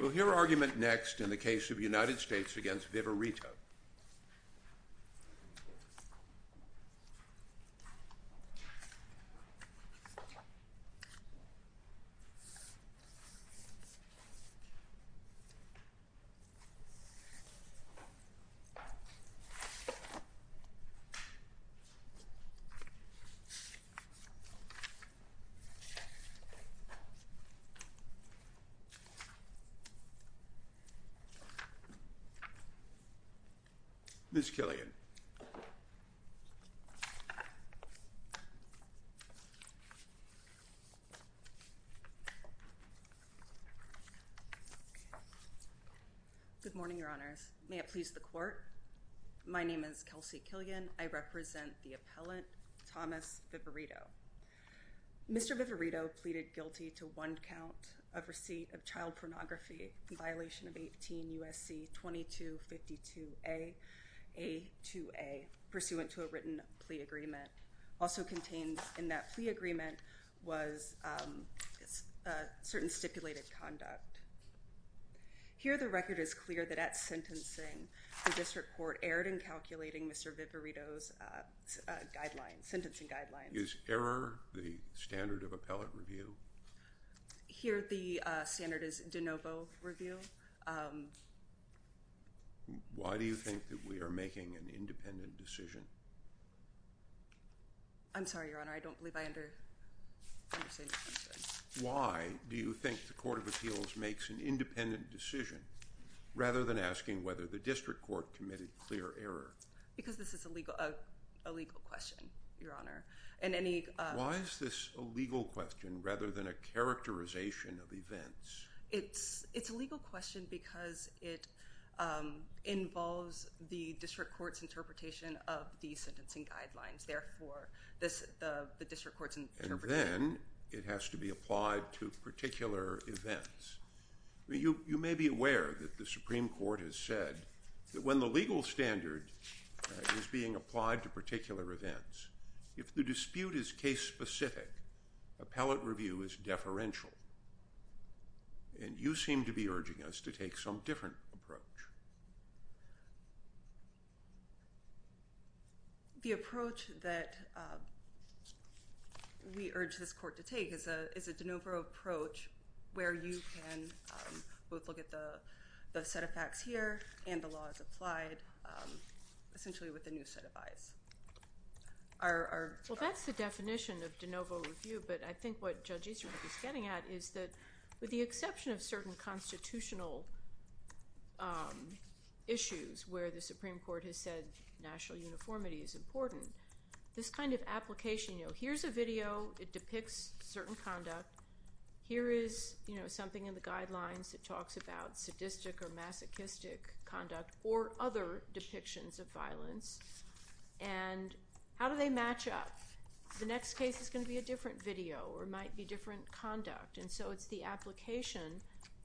We'll hear argument next in the case of United States v. Vivirito. Ms. Killian Good morning, your honors. May it please the court. My name is Kelsey Killian. I represent the appellant Thomas Vivirito. Mr. Vivirito pleaded guilty to one count of receipt of child pornography in violation of 18 U.S.C. 2252 A.A.2.A. pursuant to a written plea agreement. Also contained in that plea agreement was a certain stipulated conduct. Here the record is clear that at sentencing the district court erred in calculating Mr. Vivirito's sentencing guidelines. Is error the standard of appellate review? Here the standard is de novo review. Why do you think that we are making an independent decision? I'm sorry, your honor. I don't believe I understand your question. Why do you think the court of appeals makes an independent decision rather than asking whether the district court committed clear error? Because this is a legal question, your honor. Why is this a legal question rather than a characterization of events? It's a legal question because it involves the district court's interpretation of the sentencing guidelines. Therefore, the district court's interpretation. And then it has to be applied to particular events. You may be aware that the Supreme Court has said that when the legal standard is being applied to particular events, if the dispute is case specific, appellate review is deferential. And you seem to be urging us to take some different approach. The approach that we urge this court to take is a de novo approach where you can both look at the set of facts here and the law as applied essentially with a new set of eyes. Well, that's the definition of de novo review, but I think what Judge Easterhook is getting at is that with the exception of certain constitutional issues where the Supreme Court has said national uniformity is important, this kind of application, you know, here's a video. It depicts certain conduct. Here is something in the guidelines that talks about sadistic or masochistic conduct or other depictions of violence. And how do they match up? The next case is going to be a different video or might be different conduct. And so it's the application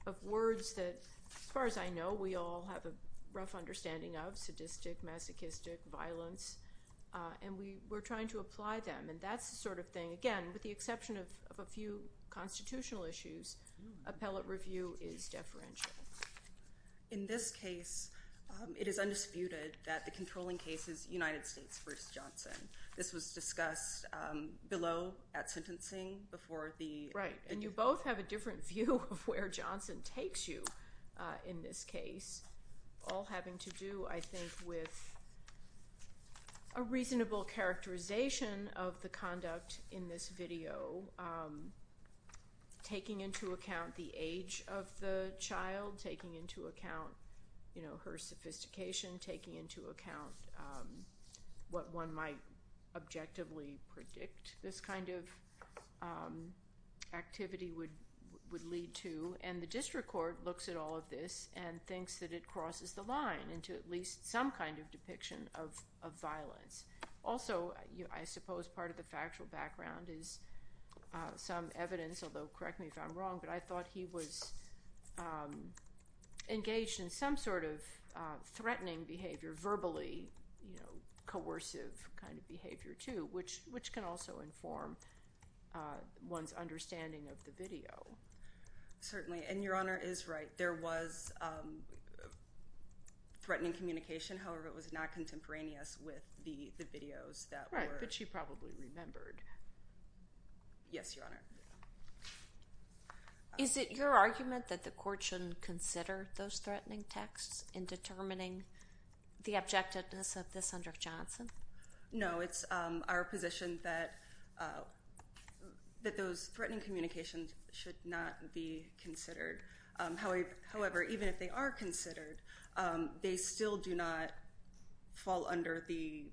of words that, as far as I know, we all have a rough understanding of, sadistic, masochistic, violence. And we're trying to apply them. And that's the sort of thing, again, with the exception of a few constitutional issues, appellate review is deferential. In this case, it is undisputed that the controlling case is United States v. Johnson. This was discussed below at sentencing before the- Right. And you both have a different view of where Johnson takes you in this case, all having to do, I think, with a reasonable characterization of the conduct in this video, taking into account the age of the child, taking into account, you know, her sophistication, taking into account what one might objectively predict this kind of activity would lead to. And the district court looks at all of this and thinks that it crosses the line into at least some kind of depiction of violence. Also, I suppose part of the factual background is some evidence, although correct me if I'm wrong, but I thought he was engaged in some sort of threatening behavior, verbally, you know, coercive kind of behavior too, which can also inform one's understanding of the video. Certainly. And Your Honor is right. There was threatening communication. However, it was not contemporaneous with the videos that were- Right. But she probably remembered. Yes, Your Honor. Is it your argument that the court shouldn't consider those threatening texts in determining the objectiveness of this under Johnson? No. It's our position that those threatening communications should not be considered. However, even if they are considered, they still do not fall under the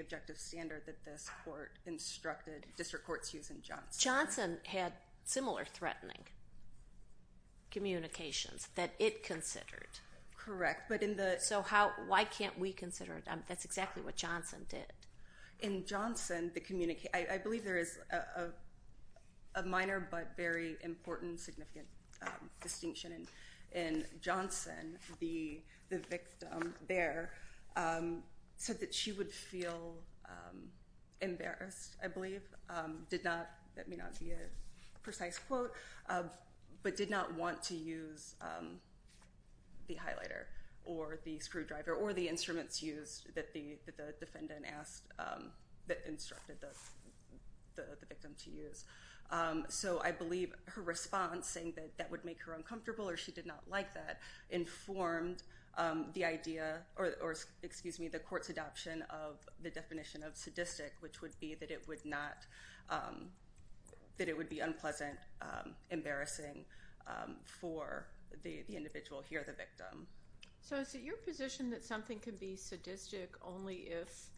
objective standard that this court instructed district courts use in Johnson. Johnson had similar threatening communications that it considered. Correct, but in the- So why can't we consider it? That's exactly what Johnson did. In Johnson, I believe there is a minor but very important significant distinction. In Johnson, the victim there said that she would feel embarrassed, I believe. That may not be a precise quote, but did not want to use the highlighter or the screwdriver or the instruments used that the defendant asked, that instructed the victim to use. So I believe her response, saying that that would make her uncomfortable or she did not like that, informed the idea or, excuse me, the court's adoption of the definition of sadistic, which would be that it would be unpleasant, embarrassing for the individual here, the victim. So is it your position that something can be sadistic only if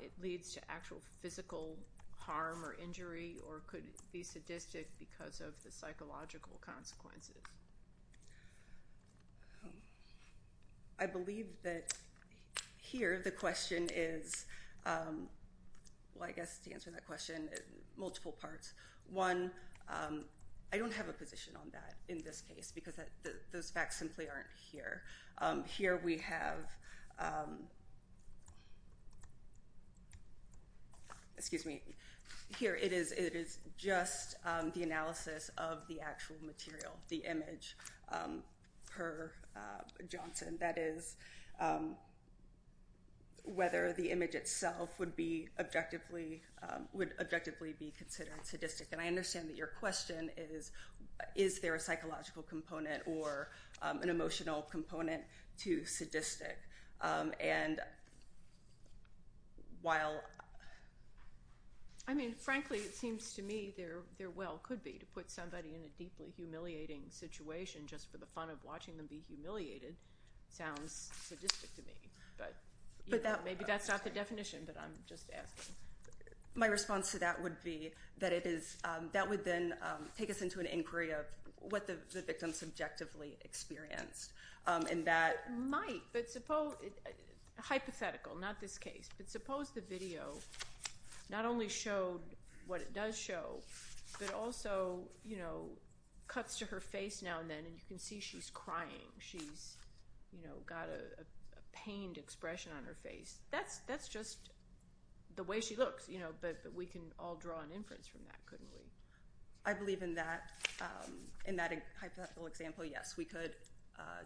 it leads to actual physical harm or injury or could it be sadistic because of the psychological consequences? I believe that here the question is, well, I guess to answer that question, multiple parts. One, I don't have a position on that in this case because those facts simply aren't here. Here we have, excuse me, here it is just the analysis of the actual material, the image per Johnson. That is, whether the image itself would objectively be considered sadistic. And I understand that your question is, is there a psychological component or an emotional component to sadistic? I mean, frankly, it seems to me there well could be to put somebody in a deeply humiliating situation just for the fun of watching them be humiliated. Sounds sadistic to me, but maybe that's not the definition, but I'm just asking. My response to that would be that it is, that would then take us into an inquiry of what the victim subjectively experienced. It might, but hypothetical, not this case. But suppose the video not only showed what it does show, but also cuts to her face now and then and you can see she's crying. She's got a pained expression on her face. That's just the way she looks, but we can all draw an inference from that, couldn't we? I believe in that hypothetical example, yes, we could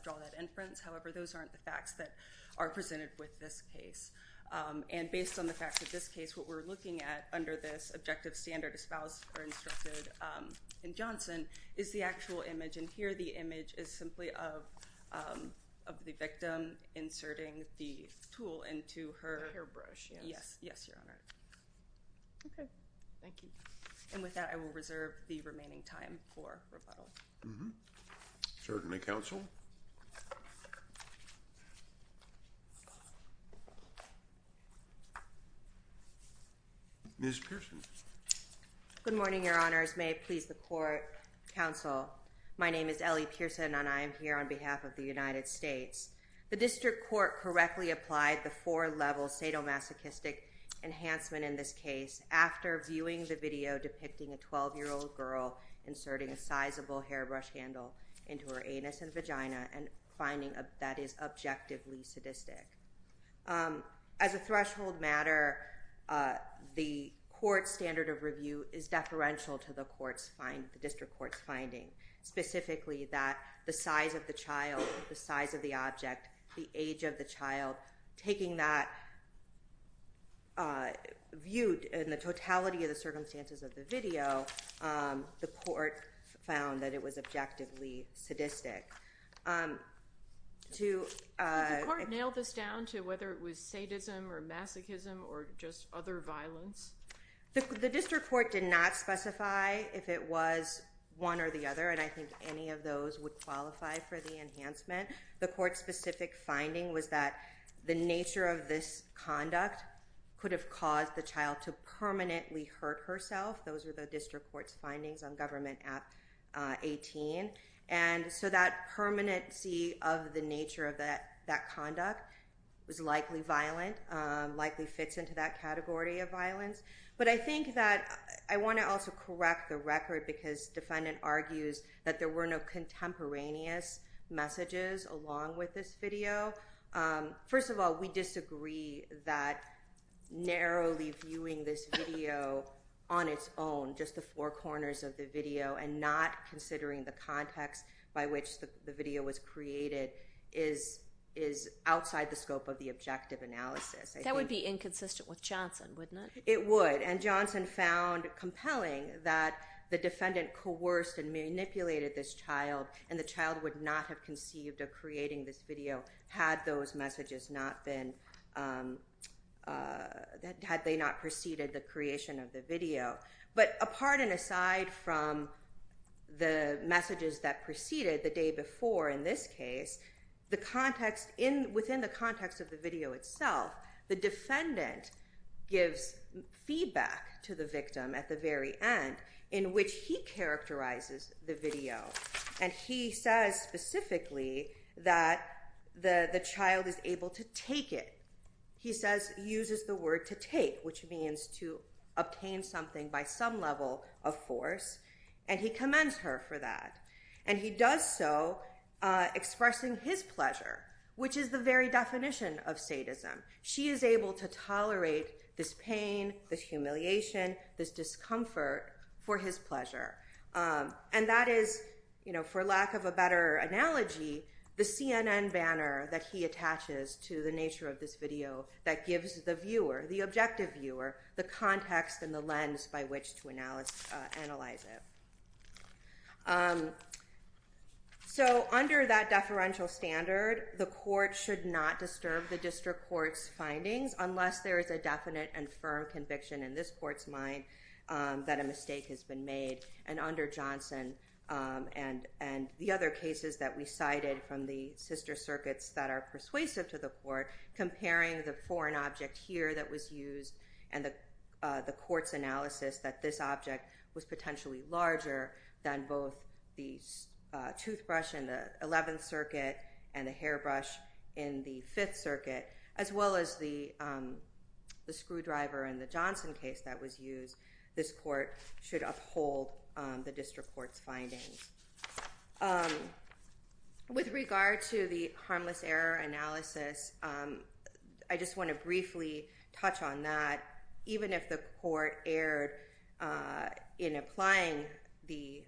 draw that inference. However, those aren't the facts that are presented with this case. And based on the facts of this case, what we're looking at under this objective standard espoused or instructed in Johnson is the actual image. And here the image is simply of the victim inserting the tool into her hairbrush. Yes. Yes, Your Honor. Okay. Thank you. And with that, I will reserve the remaining time for rebuttal. Certainly, Counsel. Ms. Pearson. Good morning, Your Honors. May it please the Court, Counsel. My name is Ellie Pearson, and I am here on behalf of the United States. The district court correctly applied the four-level sadomasochistic enhancement in this case after viewing the video depicting a 12-year-old girl inserting a sizable hairbrush handle into her anus and vagina and finding that is objectively sadistic. As a threshold matter, the court's standard of review is deferential to the district court's finding, specifically that the size of the child, the size of the object, the age of the child, taking that view in the totality of the circumstances of the video, the court found that it was objectively sadistic. Did the court nail this down to whether it was sadism or masochism or just other violence? The district court did not specify if it was one or the other, and I think any of those would qualify for the enhancement. The court's specific finding was that the nature of this conduct could have caused the child to permanently hurt herself. Those are the district court's findings on Government Act 18. And so that permanency of the nature of that conduct was likely violent, likely fits into that category of violence. But I think that I want to also correct the record because defendant argues that there were no contemporaneous messages along with this video. First of all, we disagree that narrowly viewing this video on its own, just the four corners of the video, and not considering the context by which the video was created is outside the scope of the objective analysis. That would be inconsistent with Johnson, wouldn't it? It would, and Johnson found compelling that the defendant coerced and manipulated this child, and the child would not have conceived of creating this video had those messages not been, had they not preceded the creation of the video. But apart and aside from the messages that preceded the day before in this case, within the context of the video itself, the defendant gives feedback to the victim at the very end in which he characterizes the video, and he says specifically that the child is able to take it. He says, uses the word to take, which means to obtain something by some level of force, and he commends her for that. And he does so expressing his pleasure, which is the very definition of sadism. She is able to tolerate this pain, this humiliation, this discomfort for his pleasure, and that is, for lack of a better analogy, the CNN banner that he attaches to the nature of this video that gives the viewer, the objective viewer, the context and the lens by which to analyze it. So under that deferential standard, the court should not disturb the district court's findings unless there is a definite and firm conviction in this court's mind that a mistake has been made. And under Johnson and the other cases that we cited from the sister circuits that are persuasive to the court, comparing the foreign object here that was used and the court's analysis that this object was potentially larger than both the toothbrush in the 11th circuit and the hairbrush in the 5th circuit, as well as the screwdriver in the Johnson case that was used, this court should uphold the district court's findings. With regard to the harmless error analysis, I just want to briefly touch on that. Even if the court erred in applying the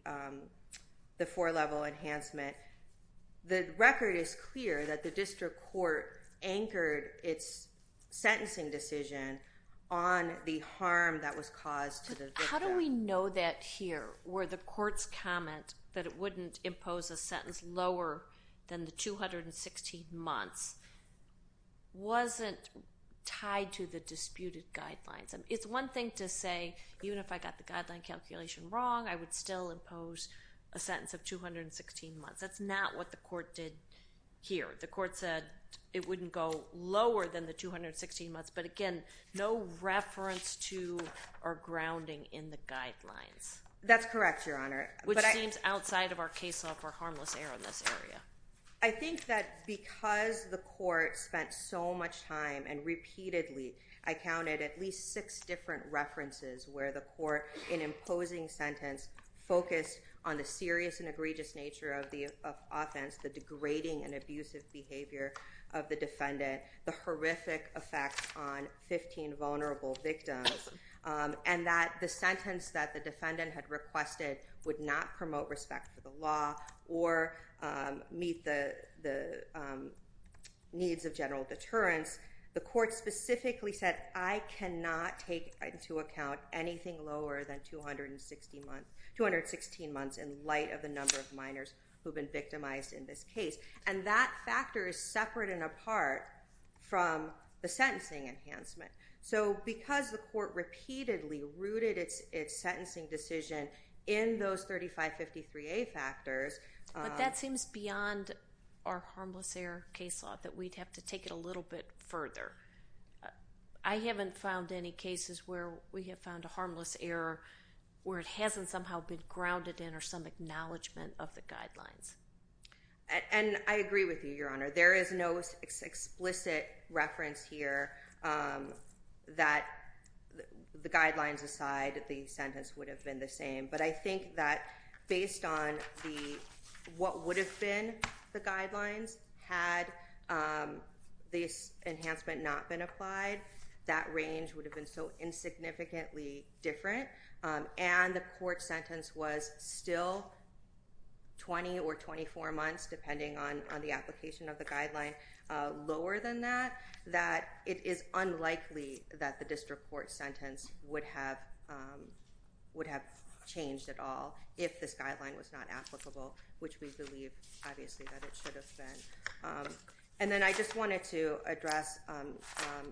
four-level enhancement, the record is clear that the district court anchored its sentencing decision on the harm that was caused to the victim. How do we know that here, where the court's comment that it wouldn't impose a sentence lower than the 216 months wasn't tied to the disputed guidelines? It's one thing to say, even if I got the guideline calculation wrong, I would still impose a sentence of 216 months. That's not what the court did here. The court said it wouldn't go lower than the 216 months, but again, no reference to or grounding in the guidelines. That's correct, Your Honor. Which seems outside of our case law for harmless error in this area. I think that because the court spent so much time and repeatedly, I counted at least six different references where the court, in imposing sentence, focused on the serious and egregious nature of the offense, the degrading and abusive behavior of the defendant, the horrific effects on 15 vulnerable victims, and that the sentence that the defendant had requested would not promote respect for the law or meet the needs of general deterrence, the court specifically said, I cannot take into account anything lower than 216 months in light of the number of minors who have been victimized in this case. And that factor is separate and apart from the sentencing enhancement. So because the court repeatedly rooted its sentencing decision in those 3553A factors. But that seems beyond our harmless error case law, that we'd have to take it a little bit further. I haven't found any cases where we have found a harmless error where it hasn't somehow been grounded in or some acknowledgement of the guidelines. And I agree with you, Your Honor. There is no explicit reference here that the guidelines aside, the sentence would have been the same. But I think that based on what would have been the guidelines, had the enhancement not been applied, that range would have been so insignificantly different. And the court sentence was still 20 or 24 months, depending on the application of the guideline, lower than that, that it is unlikely that the district court sentence would have changed at all if this guideline was not applicable, which we believe, obviously, that it should have been. And then I just wanted to address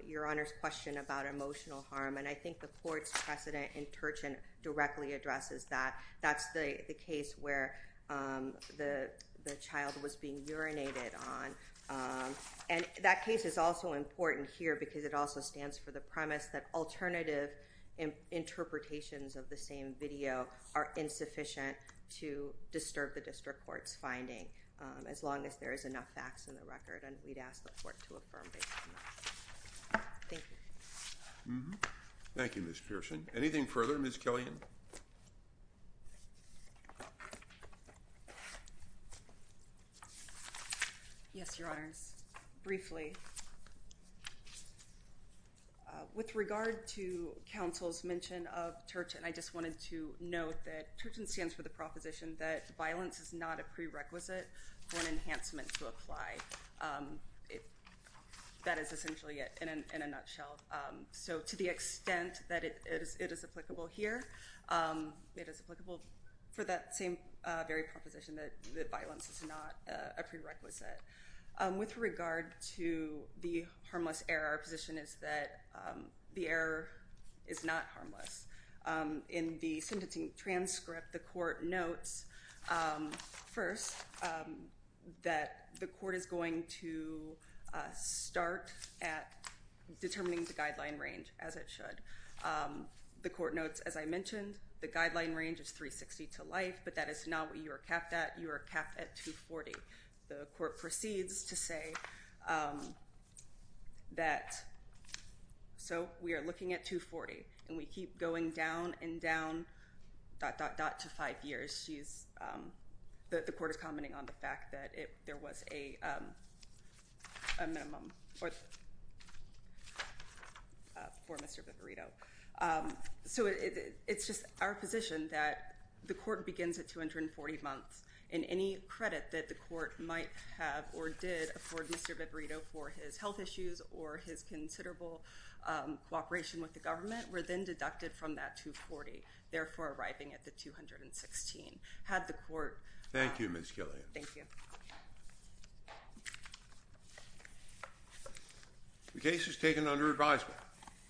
Your Honor's question about emotional harm. And I think the court's precedent in Turchin directly addresses that. That's the case where the child was being urinated on. And that case is also important here because it also stands for the premise that alternative interpretations of the same video are insufficient to disturb the district court's finding, as long as there is enough facts in the record. And we'd ask the court to affirm based on that. Thank you. Thank you, Ms. Pearson. Anything further, Ms. Killian? Yes, Your Honors. Briefly, with regard to counsel's mention of Turchin, I just wanted to note that Turchin stands for the proposition that violence is not a prerequisite for an enhancement to apply. That is essentially it in a nutshell. So to the extent that it is applicable here, it is applicable for that same very proposition that violence is not a prerequisite. With regard to the harmless error, our position is that the error is not harmless. In the sentencing transcript, the court notes first that the court is going to start at determining the guideline range as it should. The court notes, as I mentioned, the guideline range is 360 to life, but that is not what you are capped at. You are capped at 240. The court proceeds to say that, so we are looking at 240, and we keep going down and down, dot, dot, dot, to five years. The court is commenting on the fact that there was a minimum for Mr. Viverito. It is just our position that the court begins at 240 months. Any credit that the court might have or did afford Mr. Viverito for his health issues or his considerable cooperation with the government were then deducted from that 240, therefore arriving at the 216. Thank you, Ms. Killian. Thank you. The case is taken under advisement.